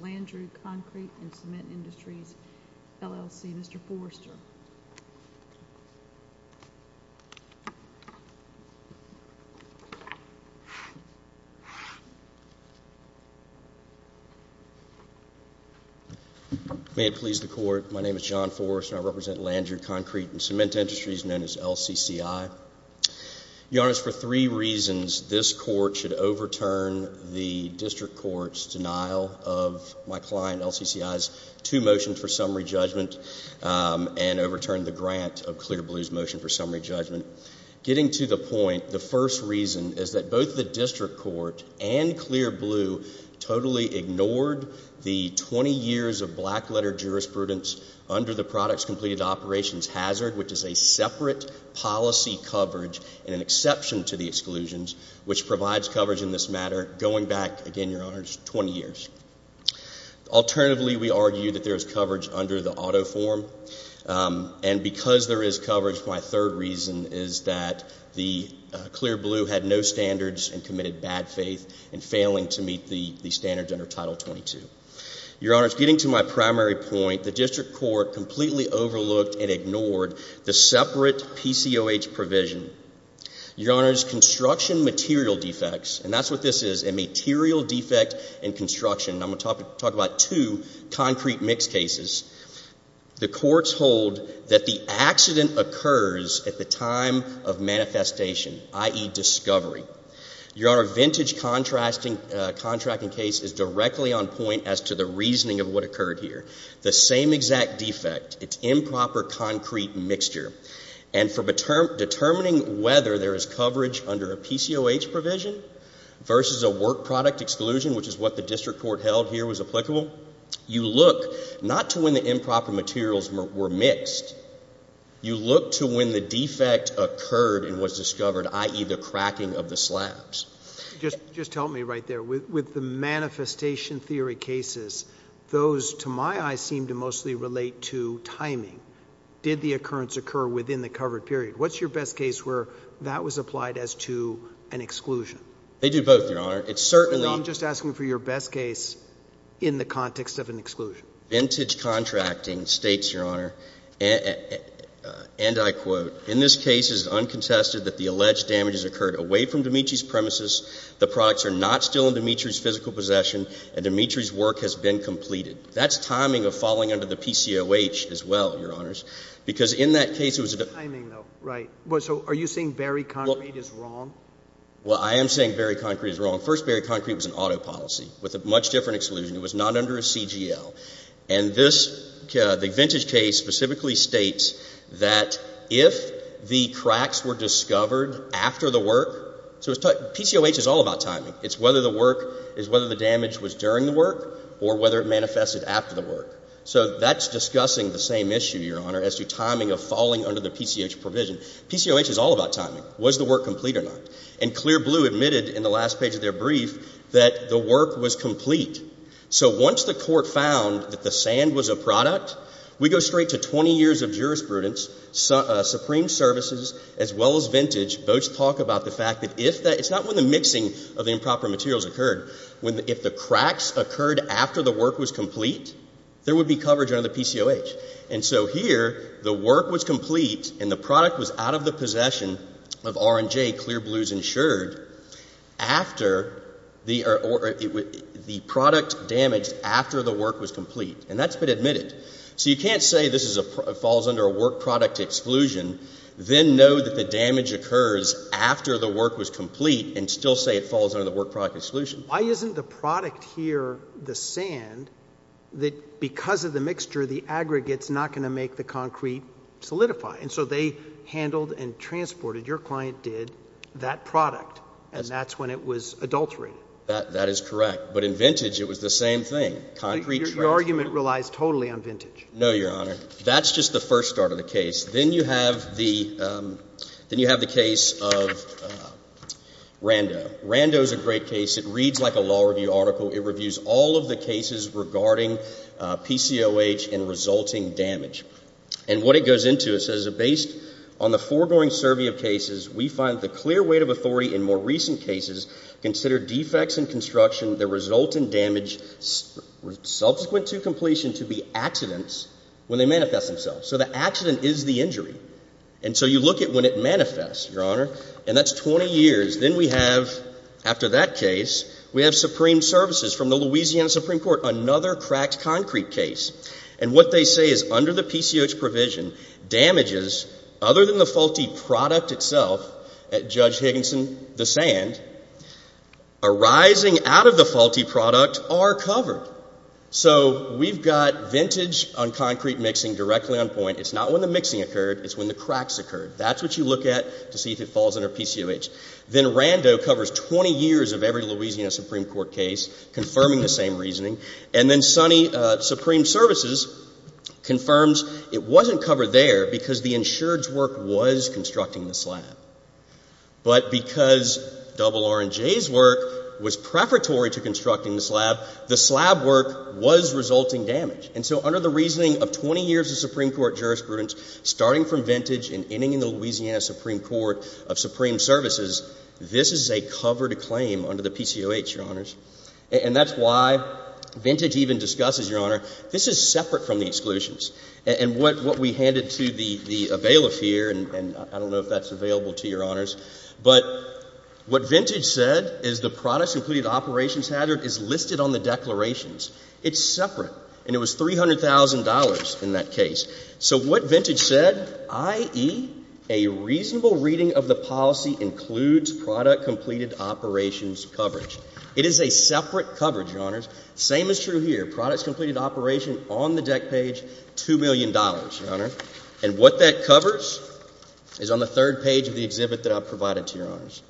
v. Landrieu Concrete and Cement Industries, LLC. Mr. Forrester. May it please the court. My name is John Forrester. I represent Landrieu Concrete and Cement Industries, known as LCCI. Your Honor, for three reasons, this court should overturn the district court's denial of my client LCCI's two motions for summary judgment and overturn the grant of Clear Blue's motion for summary judgment. Getting to the point, the first reason is that both the district court and Clear Blue totally ignored the 20 years of black-letter jurisprudence under the Products Completed Operations Hazard, which is a separate policy coverage and an exception to the exclusions, which provides coverage in this matter going back, again, Your Honor, 20 years. Alternatively, we argue that there is coverage under the auto form. And because there is coverage, my third reason is that the Clear Blue had no standards and committed bad faith in failing to meet the standards under Title 22. Your Honor, getting to my primary point, the district court completely overlooked and ignored the separate PCOH provision. Your Honor, it's construction material defects, and that's what this is, a material defect in construction. I'm going to talk about two concrete mixed cases. The courts hold that the accident occurs at the time of manifestation, i.e., discovery. Your Honor, vintage contracting case is directly on point as to the reasoning of what occurred here. The same exact defect, it's improper concrete mixture. And for determining whether there is coverage under a PCOH provision versus a work product exclusion, which is what the district court held here was applicable, you look not to when the improper materials were mixed. You look to when the defect occurred and was discovered, i.e., the cracking of the slabs. Just help me right there. With the manifestation theory cases, those, to my eyes, seem to mostly relate to timing. Did the occurrence occur within the covered period? What's your best case where that was applied as to an exclusion? They do both, Your Honor. It's certainly not— I'm just asking for your best case in the context of an exclusion. Vintage contracting states, Your Honor, and I quote, in this case it is uncontested that the alleged damage has occurred away from Dimitri's premises, the products are not still in Dimitri's physical possession, and Dimitri's work has been completed. That's timing of falling under the PCOH as well, Your Honors, because in that case it was— It's timing, though. Right. So are you saying Barry Concrete is wrong? Well, I am saying Barry Concrete is wrong. First, Barry Concrete was an autopolicy with a much different exclusion. It was not under a CGL. And this—the Vintage case specifically states that if the cracks were discovered after the work—so PCOH is all about timing. It's whether the work—it's whether the damage was during the work or whether it manifested after the work. So that's discussing the same issue, Your Honor, as to timing of falling under the PCOH provision. PCOH is all about timing. Was the work complete or not? And Clear Blue admitted in the last page of their brief that the work was complete. So once the court found that the sand was a product, we go straight to 20 years of jurisprudence. Supreme Services, as well as Vintage, both talk about the fact that if that—it's not when the mixing of the improper materials occurred. If the cracks occurred after the work was complete, there would be coverage under the PCOH. And so here, the work was complete and the product was out of the possession of R&J, Clear Blue's insured, after the—the product damaged after the work was complete. And that's been admitted. So you can't say this is a—falls under a work product exclusion, then know that the damage occurs after the work was complete, and still say it falls under the work product exclusion. Why isn't the product here, the sand, that because of the mixture, the aggregate's not going to make the concrete solidify? And so they handled and transported—your client did—that product. And that's when it was adultery. That is correct. But in Vintage, it was the same thing. Concrete transported. Your argument relies totally on Vintage. No, Your Honor. That's just the first start of the case. Then you have the—then you have the case of Rando. Rando's a great case. It reads like a law review article. It reviews all of the cases regarding PCOH and resulting damage. And what it goes into, it says, So the accident is the injury. And so you look at when it manifests, Your Honor. And that's 20 years. Then we have, after that case, we have Supreme Services from the Louisiana Supreme Court, another cracked concrete case. And what they say is under the PCOH provision, damages other than the faulty product itself at Judge Higginson, the sand, arising out of the faulty product, are covered. So we've got Vintage on concrete mixing directly on point. It's not when the mixing occurred. It's when the cracks occurred. That's what you look at to see if it falls under PCOH. Then Rando covers 20 years of every Louisiana Supreme Court case, confirming the same reasoning. And then Sonny, Supreme Services, confirms it wasn't covered there because the insured's work was constructing the slab. But because RR&J's work was preparatory to constructing the slab, the slab work was resulting damage. And so under the reasoning of 20 years of Supreme Court jurisprudence, starting from Vintage and ending in the Louisiana Supreme Court of Supreme Services, this is a covered claim under the PCOH, Your Honors. And that's why Vintage even discusses, Your Honor, this is separate from the exclusions. And what we handed to the bailiff here, and I don't know if that's available to Your Honors. But what Vintage said is the products completed operations hazard is listed on the declarations. It's separate. And it was $300,000 in that case. So what Vintage said, i.e., a reasonable reading of the policy includes product completed operations coverage. It is a separate coverage, Your Honors. Same is true here. Products completed operation on the deck page, $2 million, Your Honor. And what that covers is on the third page of the exhibit that I provided to Your Honors.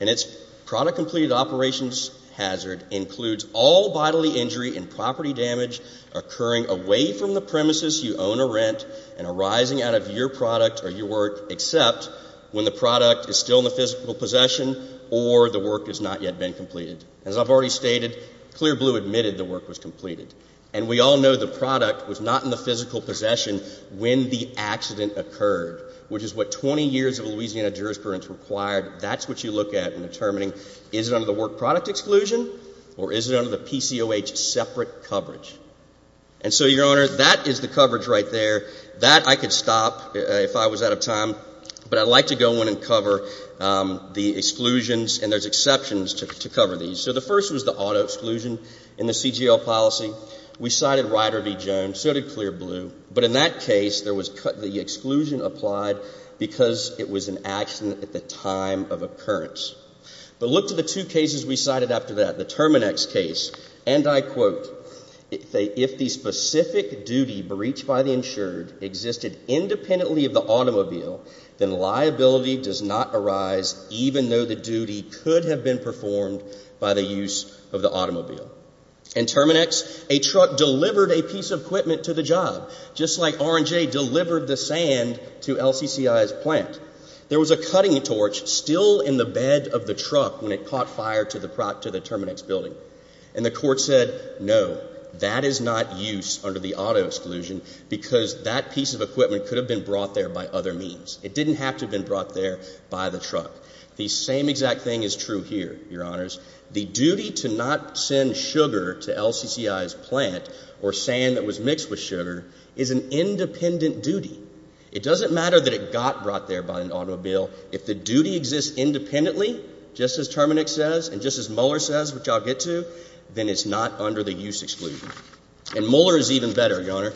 And it's product completed operations hazard includes all bodily injury and property damage occurring away from the premises you own or rent and arising out of your product or your work except when the product is still in the physical possession or the work has not yet been completed. As I've already stated, Clear Blue admitted the work was completed. And we all know the product was not in the physical possession when the accident occurred, which is what 20 years of Louisiana jurisprudence required. That's what you look at in determining is it under the work product exclusion or is it under the PCOH separate coverage. And so, Your Honor, that is the coverage right there. That I could stop if I was out of time. But I'd like to go in and cover the exclusions. And there's exceptions to cover these. So the first was the auto exclusion in the CGL policy. We cited Rider v. Jones. So did Clear Blue. But in that case, the exclusion applied because it was an accident at the time of occurrence. But look to the two cases we cited after that, the Terminex case. And I quote, if the specific duty breached by the insured existed independently of the automobile, then liability does not arise even though the duty could have been performed by the use of the automobile. In Terminex, a truck delivered a piece of equipment to the job, just like R&J delivered the sand to LCCI's plant. There was a cutting torch still in the bed of the truck when it caught fire to the Terminex building. And the court said, No, that is not use under the auto exclusion because that piece of equipment could have been brought there by other means. It didn't have to have been brought there by the truck. The same exact thing is true here, Your Honors. The duty to not send sugar to LCCI's plant or sand that was mixed with sugar is an independent duty. It doesn't matter that it got brought there by an automobile. If the duty exists independently, just as Terminex says and just as Mueller says, which I'll get to, then it's not under the use exclusion. And Mueller is even better, Your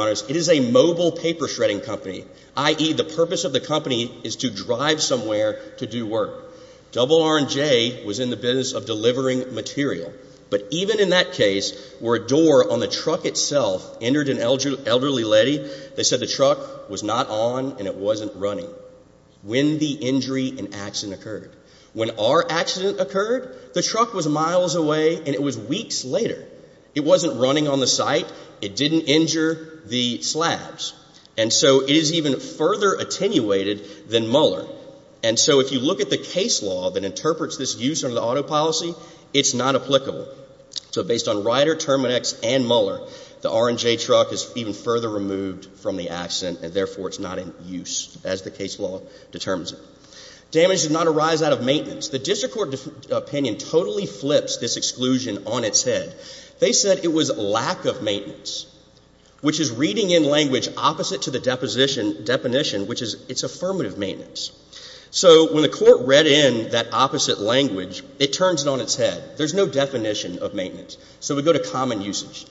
Honors. It is a mobile paper shredding company, i.e., the purpose of the company is to drive somewhere to do work. Double R&J was in the business of delivering material. But even in that case, where a door on the truck itself entered an elderly lady, they said the truck was not on and it wasn't running. When the injury and accident occurred. When our accident occurred, the truck was miles away and it was weeks later. It wasn't running on the site. It didn't injure the slabs. And so it is even further attenuated than Mueller. And so if you look at the case law that interprets this use under the auto policy, it's not applicable. So based on Ryder, Terminex and Mueller, the R&J truck is even further removed from the accident and therefore it's not in use as the case law determines it. Damage did not arise out of maintenance. The district court opinion totally flips this exclusion on its head. They said it was lack of maintenance, which is reading in language opposite to the deposition definition, which is it's affirmative maintenance. So when the court read in that opposite language, it turns it on its head. There's no definition of maintenance. So we go to common usage.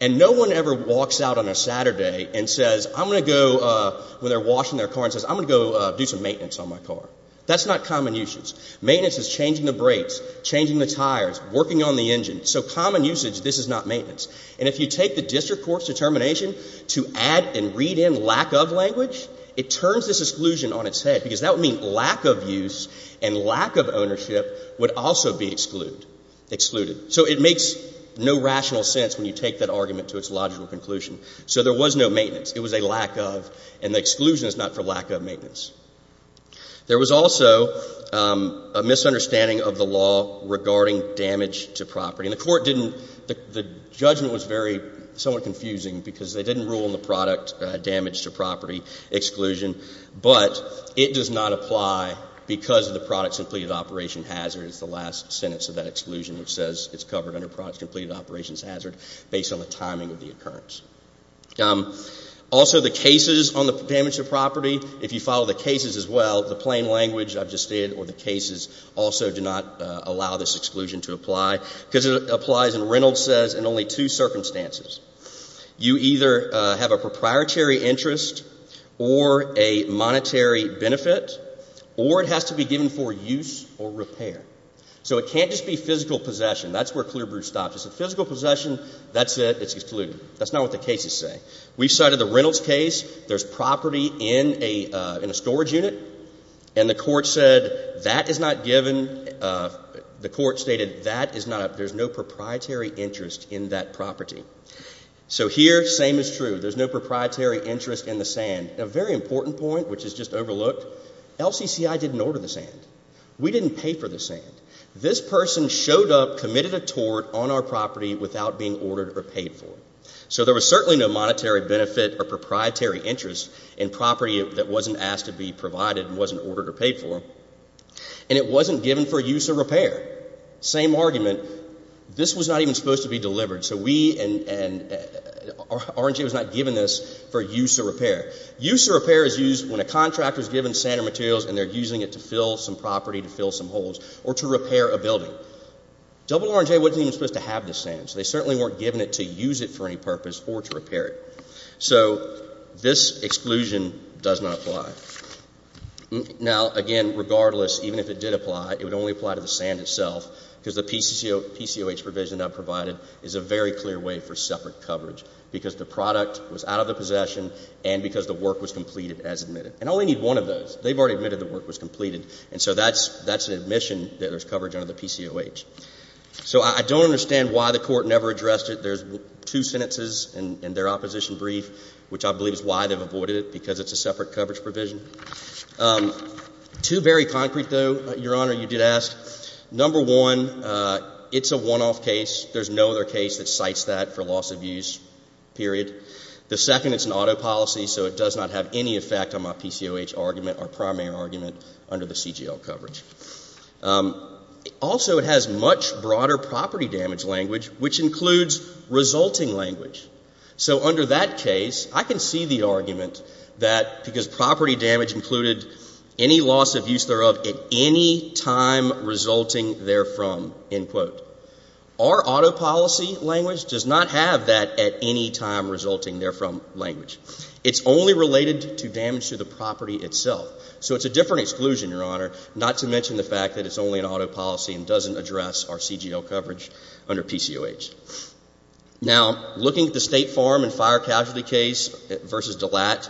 And no one ever walks out on a Saturday and says, I'm going to go, when they're washing their car and says, I'm going to go do some maintenance on my car. That's not common usage. Maintenance is changing the brakes, changing the tires, working on the engine. So common usage, this is not maintenance. And if you take the district court's determination to add and read in lack of language, it turns this exclusion on its head because that would mean lack of use and lack of ownership would also be excluded. So it makes no rational sense when you take that argument to its logical conclusion. So there was no maintenance. It was a lack of. And the exclusion is not for lack of maintenance. There was also a misunderstanding of the law regarding damage to property. And the court didn't, the judgment was very, somewhat confusing because they didn't rule in the product damage to property exclusion. But it does not apply because of the products completed operation hazard is the last sentence of that exclusion, which says it's covered under products completed operations hazard based on the timing of the occurrence. Also, the cases on the damage to property, if you follow the cases as well, the plain language I've just stated or the cases also do not allow this exclusion to apply because it applies and Reynolds says in only two circumstances. You either have a proprietary interest or a monetary benefit or it has to be given for use or repair. So it can't just be physical possession. That's where Clearbrew stops. It's a physical possession. That's it. It's excluded. That's not what the cases say. We cited the Reynolds case. There's property in a storage unit. And the court said that is not given. The court stated that is not, there's no proprietary interest in that property. So here, same is true. There's no proprietary interest in the sand. A very important point, which is just overlooked, LCCI didn't order the sand. We didn't pay for the sand. This person showed up, committed a tort on our property without being ordered or paid for. So there was certainly no monetary benefit or proprietary interest in property that wasn't asked to be provided and wasn't ordered or paid for. And it wasn't given for use or repair. Same argument. This was not even supposed to be delivered. So we and R&J was not given this for use or repair. Use or repair is used when a contractor is given sand or materials and they're using it to fill some property, to fill some holes, or to repair a building. Double R&J wasn't even supposed to have this sand. So they certainly weren't given it to use it for any purpose or to repair it. So this exclusion does not apply. Now, again, regardless, even if it did apply, it would only apply to the sand itself because the PCOH provision I've provided is a very clear way for separate coverage because the product was out of the possession and because the work was completed as admitted. And I only need one of those. They've already admitted the work was completed. And so that's an admission that there's coverage under the PCOH. So I don't understand why the Court never addressed it. There's two sentences in their opposition brief, which I believe is why they've avoided it, because it's a separate coverage provision. Two very concrete, though, Your Honor, you did ask. Number one, it's a one-off case. There's no other case that cites that for loss of use, period. The second, it's an auto policy, so it does not have any effect on my PCOH argument or primary argument under the CGL coverage. Also, it has much broader property damage language, which includes resulting language. So under that case, I can see the argument that because property damage included any loss of use thereof at any time resulting therefrom. Our auto policy language does not have that at any time resulting therefrom language. It's only related to damage to the property itself. So it's a different exclusion, Your Honor, not to mention the fact that it's only an auto policy and doesn't address our CGL coverage under PCOH. Now, looking at the State Farm and Fire Casualty case versus DeLatte,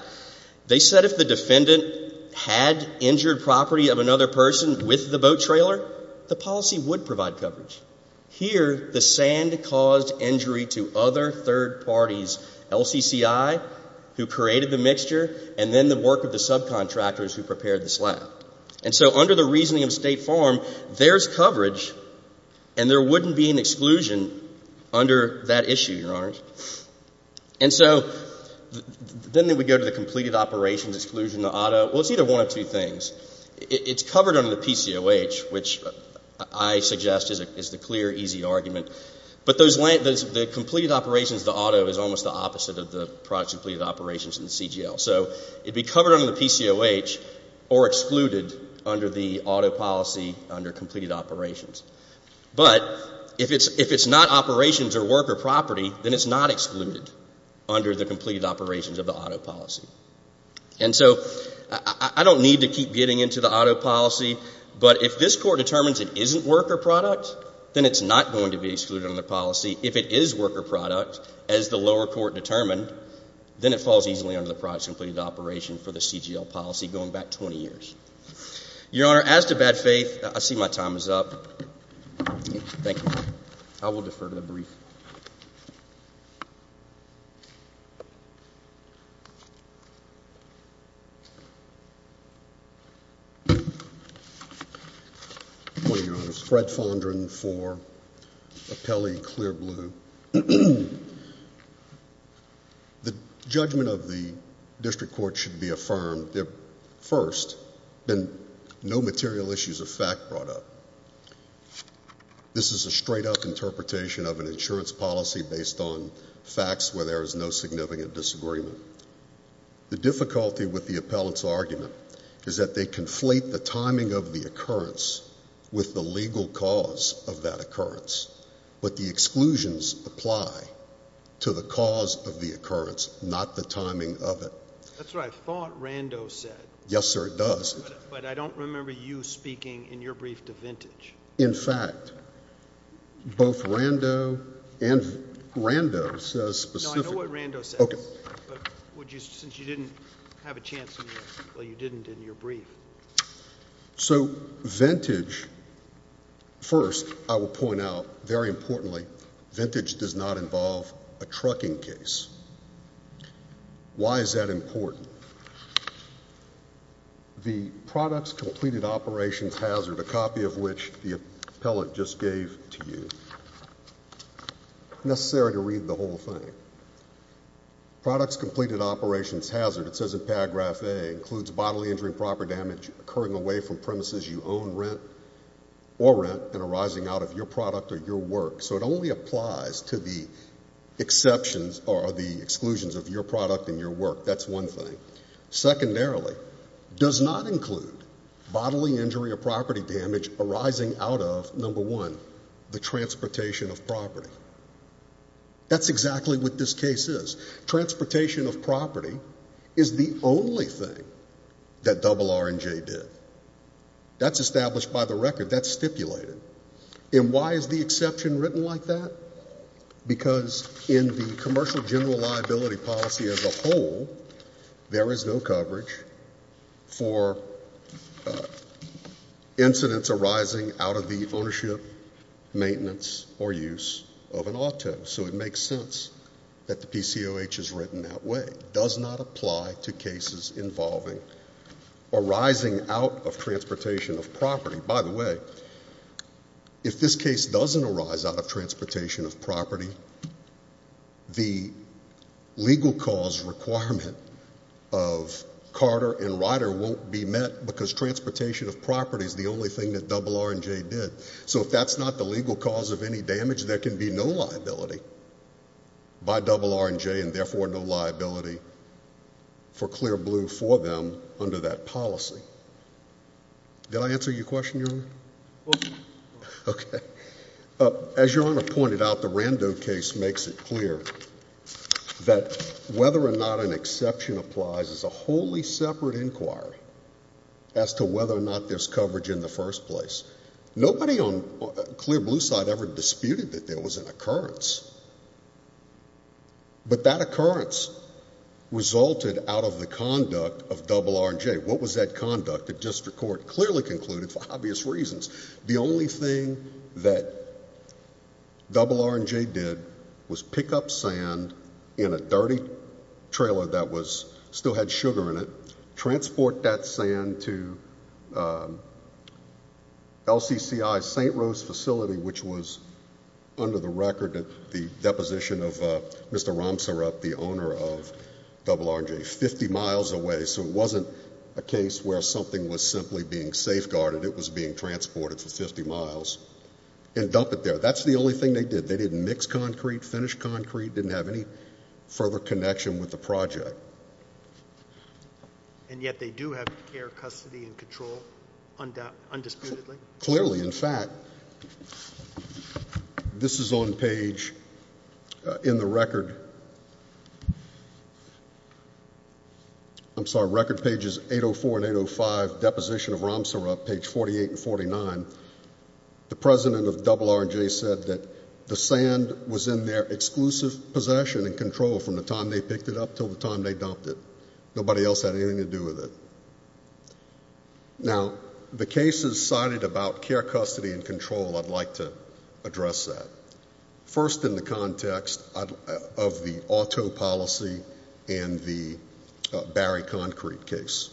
they said if the defendant had injured property of another person with the boat trailer, the policy would provide coverage. Here, the sand caused injury to other third parties, LCCI, who created the mixture, and then the work of the subcontractors who prepared the slab. And so under the reasoning of State Farm, there's coverage and there wouldn't be an exclusion under that issue, Your Honor. And so then we go to the completed operations exclusion, the auto. Well, it's either one of two things. It's covered under the PCOH, which I suggest is the clear, easy argument. But the completed operations, the auto, is almost the opposite of the products completed operations in the CGL. So it would be covered under the PCOH or excluded under the auto policy under completed operations. But if it's not operations or worker property, then it's not excluded under the completed operations of the auto policy. And so I don't need to keep getting into the auto policy, but if this Court determines it isn't worker product, then it's not going to be excluded under the policy. If it is worker product, as the lower court determined, then it falls easily under the products completed operation for the CGL policy going back 20 years. Your Honor, as to bad faith, I see my time is up. Thank you. I will defer to the brief. Thank you. Good morning, Your Honors. Fred Fondren for Appellee Clear Blue. The judgment of the district court should be affirmed. First, no material issues of fact brought up. This is a straight-up interpretation of an insurance policy based on facts where there is no significant disagreement. The difficulty with the appellant's argument is that they conflate the timing of the occurrence with the legal cause of that occurrence. But the exclusions apply to the cause of the occurrence, not the timing of it. That's what I thought Rando said. Yes, sir, it does. But I don't remember you speaking in your brief to Vintage. In fact, both Rando and... Rando says specifically... No, I know what Rando says. Okay. But since you didn't have a chance in your... well, you didn't in your brief. So Vintage... first, I will point out, very importantly, Vintage does not involve a trucking case. Why is that important? The products completed operations hazard, a copy of which the appellant just gave to you, necessary to read the whole thing. Products completed operations hazard, it says in paragraph A, includes bodily injury and proper damage occurring away from premises you own or rent and arising out of your product or your work. So it only applies to the exceptions or the exclusions of your product and your work. That's one thing. Secondarily, does not include bodily injury or property damage arising out of, number one, the transportation of property. That's exactly what this case is. Transportation of property is the only thing that RR&J did. That's established by the record. That's stipulated. And why is the exception written like that? Because in the commercial general liability policy as a whole, there is no coverage for incidents arising out of the ownership, maintenance, or use of an auto. So it makes sense that the PCOH is written that way. Does not apply to cases involving arising out of transportation of property. By the way, if this case doesn't arise out of transportation of property, the legal cause requirement of Carter and Ryder won't be met because transportation of property is the only thing that RR&J did. So if that's not the legal cause of any damage, there can be no liability by RR&J and therefore no liability for Clear Blue for them under that policy. Did I answer your question, Your Honor? Okay. As Your Honor pointed out, the Rando case makes it clear that whether or not an exception applies is a wholly separate inquiry as to whether or not there's coverage in the first place. Nobody on Clear Blue's side ever disputed that there was an occurrence. But that occurrence resulted out of the conduct of RR&J. What was that conduct? The district court clearly concluded, for obvious reasons, the only thing that RR&J did was pick up sand in a dirty trailer that still had sugar in it, transport that sand to LCCI's St. Rose facility, which was under the record at the deposition of Mr. Ramsarup, the owner of RR&J, 50 miles away. So it wasn't a case where something was simply being safeguarded. It was being transported for 50 miles, and dump it there. That's the only thing they did. They didn't mix concrete, finish concrete, didn't have any further connection with the project. And yet they do have air custody and control, undisputedly? Clearly. In fact, this is on page in the record. I'm sorry, record pages 804 and 805, deposition of Ramsarup, page 48 and 49. The president of RR&J said that the sand was in their exclusive possession and control from the time they picked it up until the time they dumped it. Nobody else had anything to do with it. Now, the cases cited about care, custody, and control, I'd like to address that. First, in the context of the auto policy and the Barry concrete case.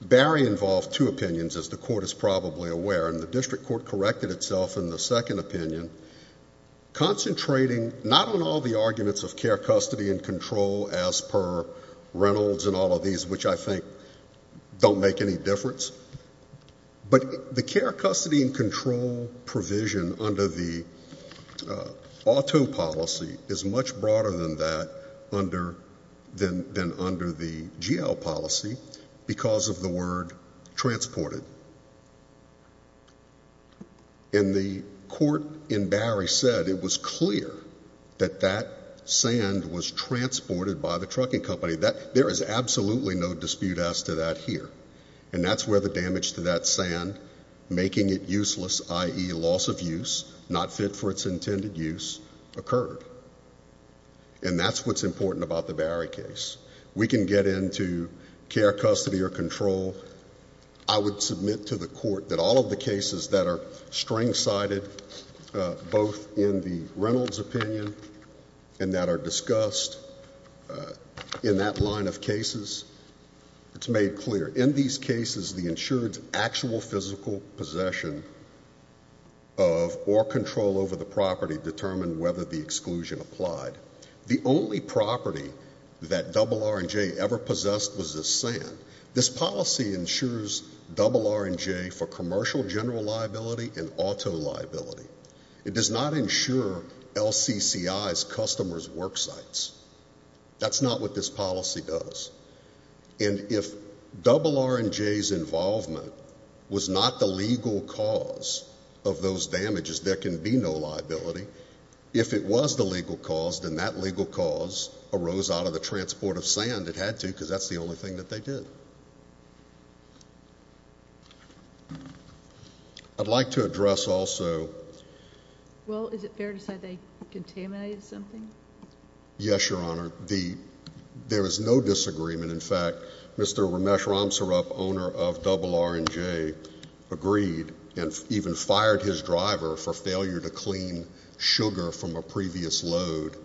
Barry involved two opinions, as the court is probably aware, and the district court corrected itself in the second opinion, concentrating not on all the arguments of care, custody, and control, as per Reynolds and all of these, which I think don't make any difference. But the care, custody, and control provision under the auto policy is much broader than that than under the GL policy because of the word transported. And the court in Barry said it was clear that that sand was transported by the trucking company. There is absolutely no dispute as to that here. And that's where the damage to that sand, making it useless, i.e. loss of use, not fit for its intended use, occurred. And that's what's important about the Barry case. We can get into care, custody, or control. I would submit to the court that all of the cases that are string-sided, both in the Reynolds opinion and that are discussed in that line of cases, it's made clear. In these cases, the insured's actual physical possession of or control over the property determined whether the exclusion applied. The only property that RR&J ever possessed was this sand. This policy insures RR&J for commercial general liability and auto liability. It does not insure LCCI's customers' work sites. That's not what this policy does. And if RR&J's involvement was not the legal cause of those damages, there can be no liability. If it was the legal cause, then that legal cause arose out of the transport of sand. It had to because that's the only thing that they did. I'd like to address also. Well, is it fair to say they contaminated something? Yes, Your Honor. There is no disagreement. In fact, Mr. Ramesh Ramsarup, owner of RR&J, agreed and even fired his driver for failure to clean sugar from a previous load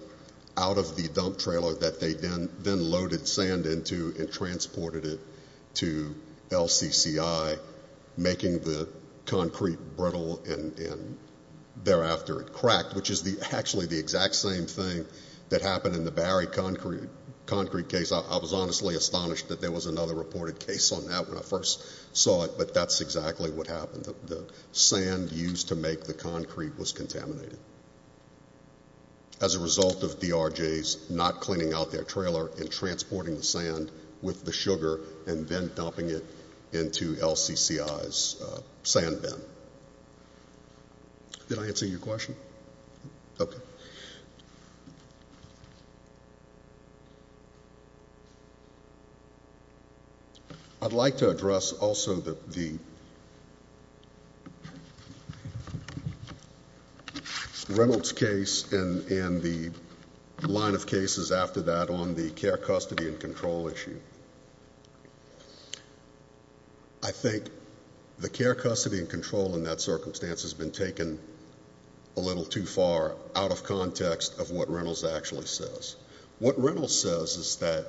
out of the dump trailer that they then loaded sand into and transported it to LCCI, making the concrete brittle and thereafter it cracked, which is actually the exact same thing that happened in the Barry concrete case. I was honestly astonished that there was another reported case on that when I first saw it, but that's exactly what happened. The sand used to make the concrete was contaminated. As a result of DRJ's not cleaning out their trailer and transporting the sand with the sugar and then dumping it into LCCI's sand bin. Did I answer your question? Okay. I'd like to address also the Reynolds case and the line of cases after that on the care, custody, and control issue. I think the care, custody, and control in that circumstance has been taken a little too far out of context of what Reynolds actually says. What Reynolds says is that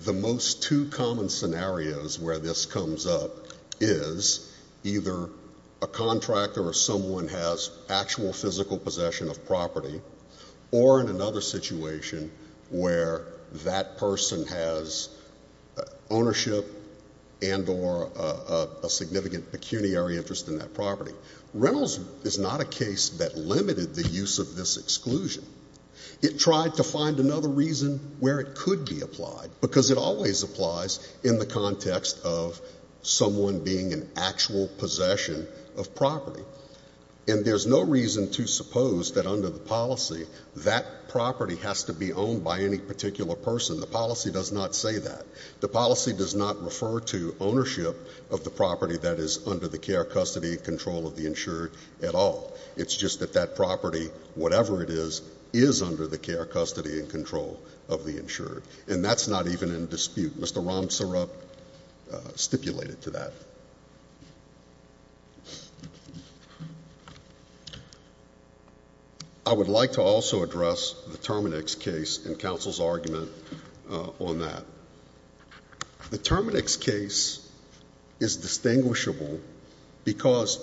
the most two common scenarios where this comes up is either a contractor or someone has actual physical possession of property or in another situation where that person has ownership and or a significant pecuniary interest in that property. Reynolds is not a case that limited the use of this exclusion. It tried to find another reason where it could be applied because it always applies in the context of someone being in actual possession of property. And there's no reason to suppose that under the policy that property has to be owned by any particular person. The policy does not say that. The policy does not refer to ownership of the property that is under the care, custody, and control of the insured at all. It's just that that property, whatever it is, is under the care, custody, and control of the insured. And that's not even in dispute. Mr. Ramsurup stipulated to that. I would like to also address the Terminix case and counsel's argument on that. The Terminix case is distinguishable because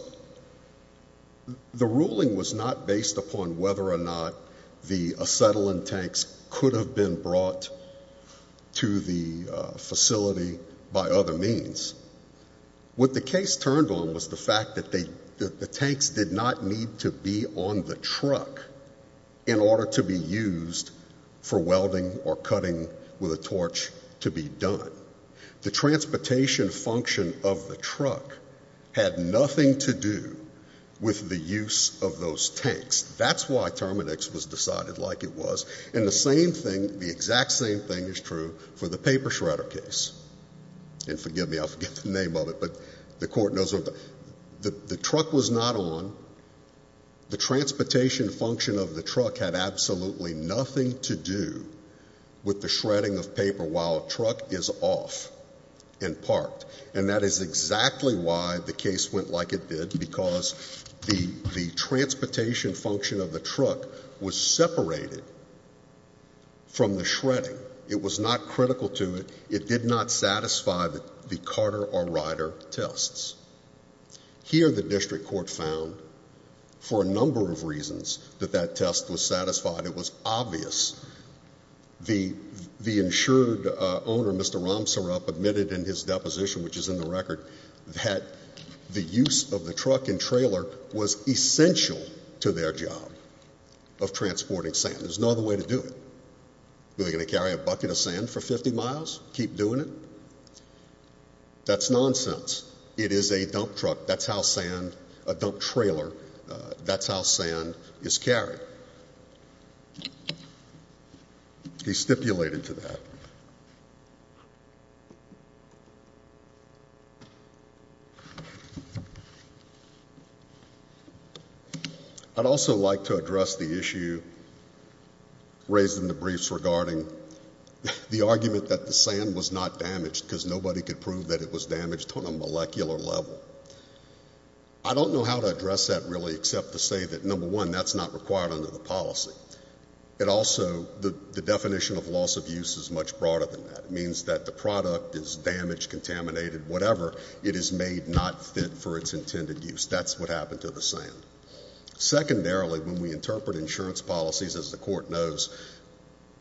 the ruling was not based upon whether or not the acetylene tanks could have been brought to the facility by other means. What the case turned on was the fact that the tanks did not need to be on the truck in order to be used for welding or cutting with a torch to be done. The transportation function of the truck had nothing to do with the use of those tanks. That's why Terminix was decided like it was. And the same thing, the exact same thing is true for the paper shredder case. And forgive me, I forget the name of it, but the court knows what the truck was not on. The transportation function of the truck had absolutely nothing to do with the shredding of paper while a truck is off and parked. And that is exactly why the case went like it did because the transportation function of the truck was separated from the shredding. It was not critical to it. It did not satisfy the carter or rider tests. Here the district court found for a number of reasons that that test was satisfied. It was obvious. The insured owner, Mr. Ramsarup, admitted in his deposition, which is in the record, that the use of the truck and trailer was essential to their job of transporting sand. There's no other way to do it. Are they going to carry a bucket of sand for 50 miles, keep doing it? That's nonsense. It is a dump truck. That's how sand, a dump trailer, that's how sand is carried. He stipulated to that. I'd also like to address the issue raised in the briefs regarding the argument that the sand was not damaged because nobody could prove that it was damaged on a molecular level. I don't know how to address that really except to say that, number one, that's not required under the policy. It also, the definition of loss of use is much broader than that. It means that the product is damaged, contaminated, whatever. It is made not fit for its intended use. That's what happened to the sand. Secondarily, when we interpret insurance policies, as the court knows,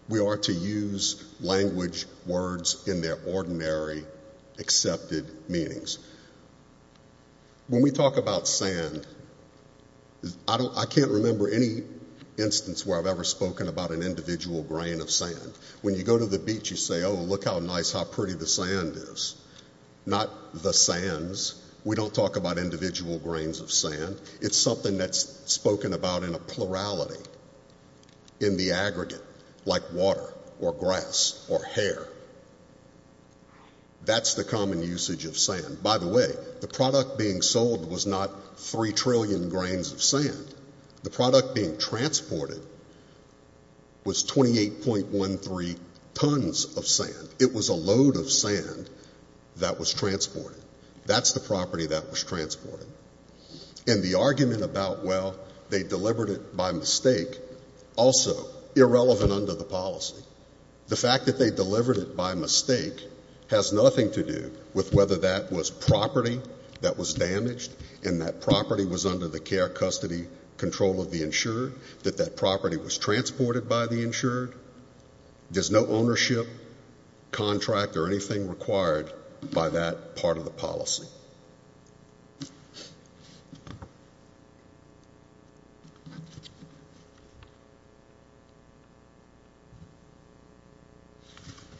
we are to use language, words in their ordinary accepted meanings. When we talk about sand, I can't remember any instance where I've ever spoken about an individual grain of sand. When you go to the beach, you say, oh, look how nice, how pretty the sand is. Not the sands. It's something that's spoken about in a plurality, in the aggregate, like water or grass or hair. That's the common usage of sand. By the way, the product being sold was not 3 trillion grains of sand. The product being transported was 28.13 tons of sand. It was a load of sand that was transported. That's the property that was transported. And the argument about, well, they delivered it by mistake, also irrelevant under the policy. The fact that they delivered it by mistake has nothing to do with whether that was property that was damaged and that property was under the care, custody, control of the insurer, that that property was transported by the insurer. There's no ownership, contract, or anything required by that part of the policy. Thank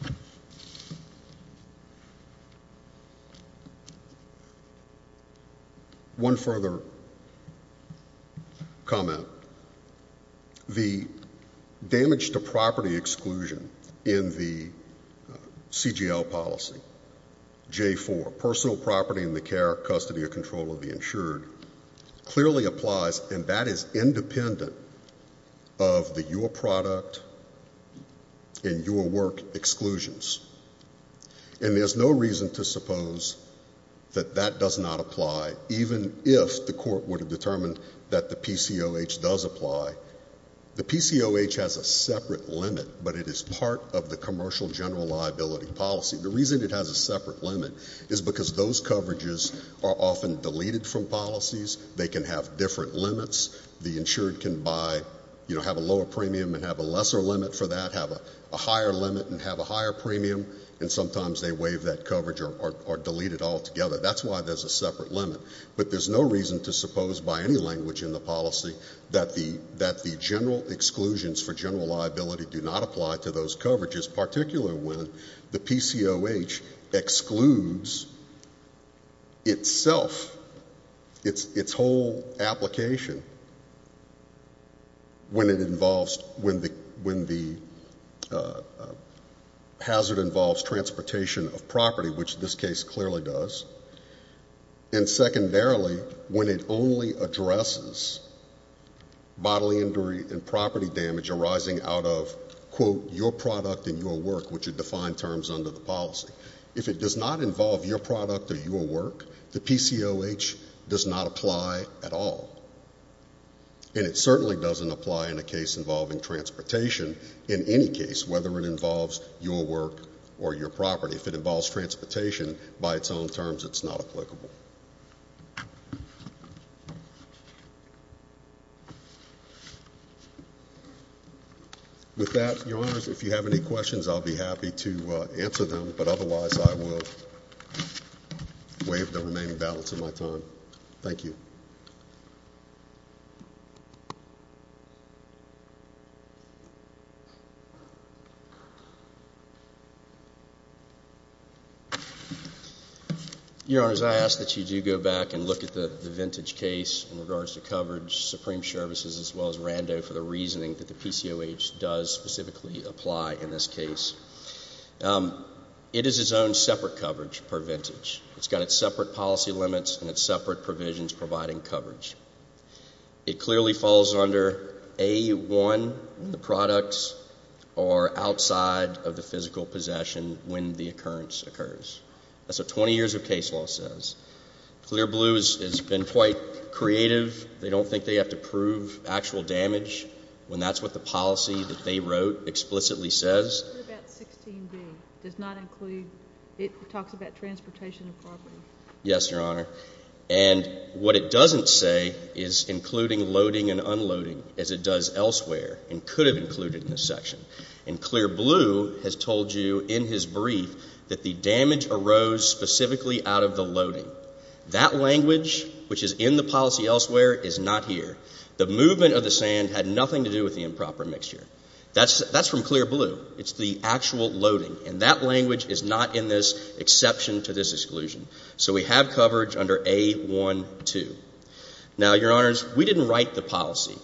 you. One further comment. The damage to property exclusion in the CGL policy, J4, personal property in the care, custody, or control of the insured, clearly applies, and that is independent of the your product and your work exclusions. And there's no reason to suppose that that does not apply, even if the court would have determined that the PCOH does apply. The PCOH has a separate limit, but it is part of the commercial general liability policy. The reason it has a separate limit is because those coverages are often deleted from policies. They can have different limits. The insured can buy, you know, have a lower premium and have a lesser limit for that, have a higher limit and have a higher premium, and sometimes they waive that coverage or delete it altogether. That's why there's a separate limit. But there's no reason to suppose by any language in the policy that the general exclusions for general liability do not apply to those coverages, particularly when the PCOH excludes itself, its whole application, when it involves, when the hazard involves transportation of property, which this case clearly does, and secondarily, when it only addresses bodily injury and property damage arising out of, quote, your product and your work, which are defined terms under the policy. If it does not involve your product or your work, the PCOH does not apply at all, and it certainly doesn't apply in a case involving transportation in any case, whether it involves your work or your property. If it involves transportation, by its own terms, it's not applicable. With that, Your Honors, if you have any questions, I'll be happy to answer them, but otherwise I will waive the remaining balance of my time. Thank you. Your Honors, I ask that you do go back and look at the Vintage case in regards to coverage, Supreme Services, as well as Rando for the reasoning that the PCOH does specifically apply in this case. It is its own separate coverage per Vintage. It's got its separate policy limits and its separate provisions providing coverage. It clearly falls under A1, the products, or outside of the physical possession when the occurrence occurs. That's what 20 years of case law says. Clear Blue has been quite creative. They don't think they have to prove actual damage when that's what the policy that they wrote explicitly says. It talks about transportation and property. Yes, Your Honor. And what it doesn't say is including loading and unloading as it does elsewhere and could have included in this section. And Clear Blue has told you in his brief that the damage arose specifically out of the loading. That language, which is in the policy elsewhere, is not here. The movement of the sand had nothing to do with the improper mixture. That's from Clear Blue. It's the actual loading. And that language is not in this exception to this exclusion. So we have coverage under A1-2. Now, Your Honors, we didn't write the policy.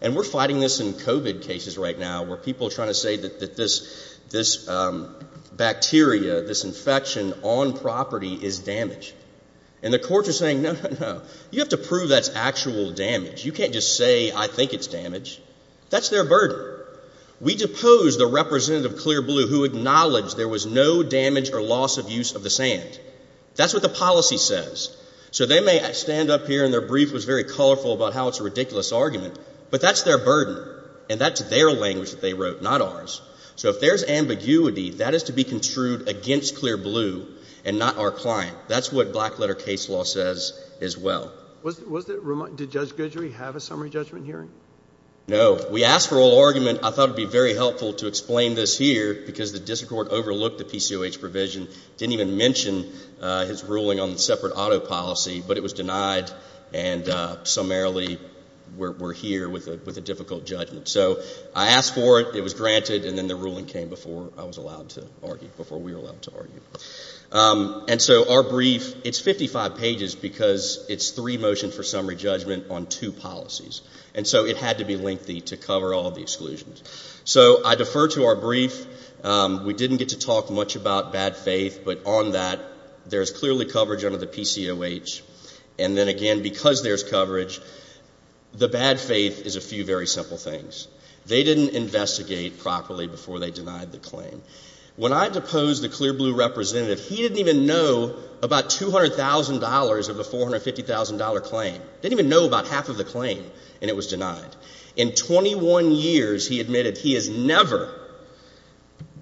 And we're fighting this in COVID cases right now where people are trying to say that this bacteria, this infection on property is damage. And the courts are saying, no, no, no. You have to prove that's actual damage. You can't just say, I think it's damage. That's their burden. We depose the representative of Clear Blue who acknowledged there was no damage or loss of use of the sand. That's what the policy says. So they may stand up here, and their brief was very colorful about how it's a ridiculous argument. But that's their burden. And that's their language that they wrote, not ours. So if there's ambiguity, that is to be construed against Clear Blue and not our client. That's what Blackletter case law says as well. Did Judge Guidry have a summary judgment hearing? No. So we asked for oral argument. I thought it would be very helpful to explain this here because the district court overlooked the PCOH provision, didn't even mention his ruling on the separate auto policy, but it was denied, and summarily we're here with a difficult judgment. So I asked for it. It was granted, and then the ruling came before I was allowed to argue, before we were allowed to argue. And so our brief, it's 55 pages because it's three motions for summary judgment on two policies. And so it had to be lengthy to cover all the exclusions. So I defer to our brief. We didn't get to talk much about bad faith, but on that, there's clearly coverage under the PCOH. And then again, because there's coverage, the bad faith is a few very simple things. They didn't investigate properly before they denied the claim. When I deposed the Clear Blue representative, he didn't even know about $200,000 of the $450,000 claim. Didn't even know about half of the claim, and it was denied. In 21 years, he admitted he has never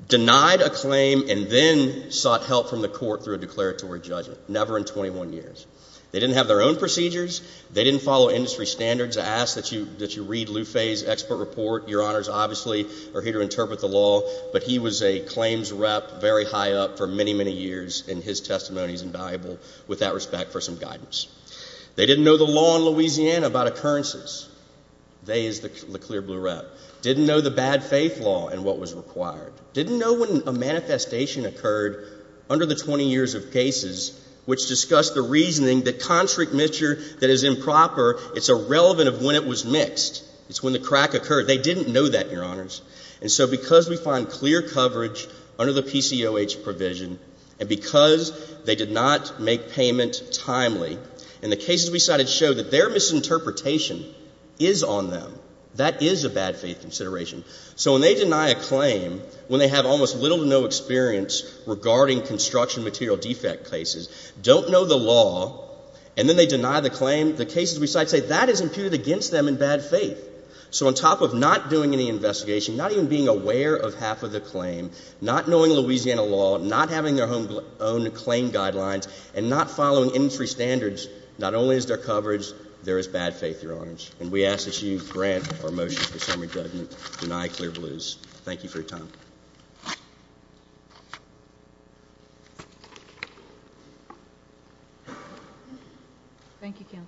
denied a claim and then sought help from the court through a declaratory judgment, never in 21 years. They didn't have their own procedures. They didn't follow industry standards. I ask that you read Lufe's expert report. Your honors obviously are here to interpret the law, but he was a claims rep, very high up for many, many years, and his testimony is invaluable with that respect for some guidance. They didn't know the law in Louisiana about occurrences. They is the Clear Blue rep. Didn't know the bad faith law and what was required. Didn't know when a manifestation occurred under the 20 years of cases, which discussed the reasoning that constrict mixture that is improper, it's irrelevant of when it was mixed. It's when the crack occurred. They didn't know that, your honors. And so because we find clear coverage under the PCOH provision, and because they did not make payment timely, and the cases we cited show that their misinterpretation is on them, that is a bad faith consideration. So when they deny a claim, when they have almost little to no experience regarding construction material defect cases, don't know the law, and then they deny the claim, the cases we cite say that is imputed against them in bad faith. So on top of not doing any investigation, not even being aware of half of the claim, not knowing Louisiana law, not having their own claim guidelines, and not following industry standards, not only is there coverage, there is bad faith, your honors. And we ask that you grant our motion for summary judgment, deny Clear Blues. Thank you for your time. Thank you, counsel.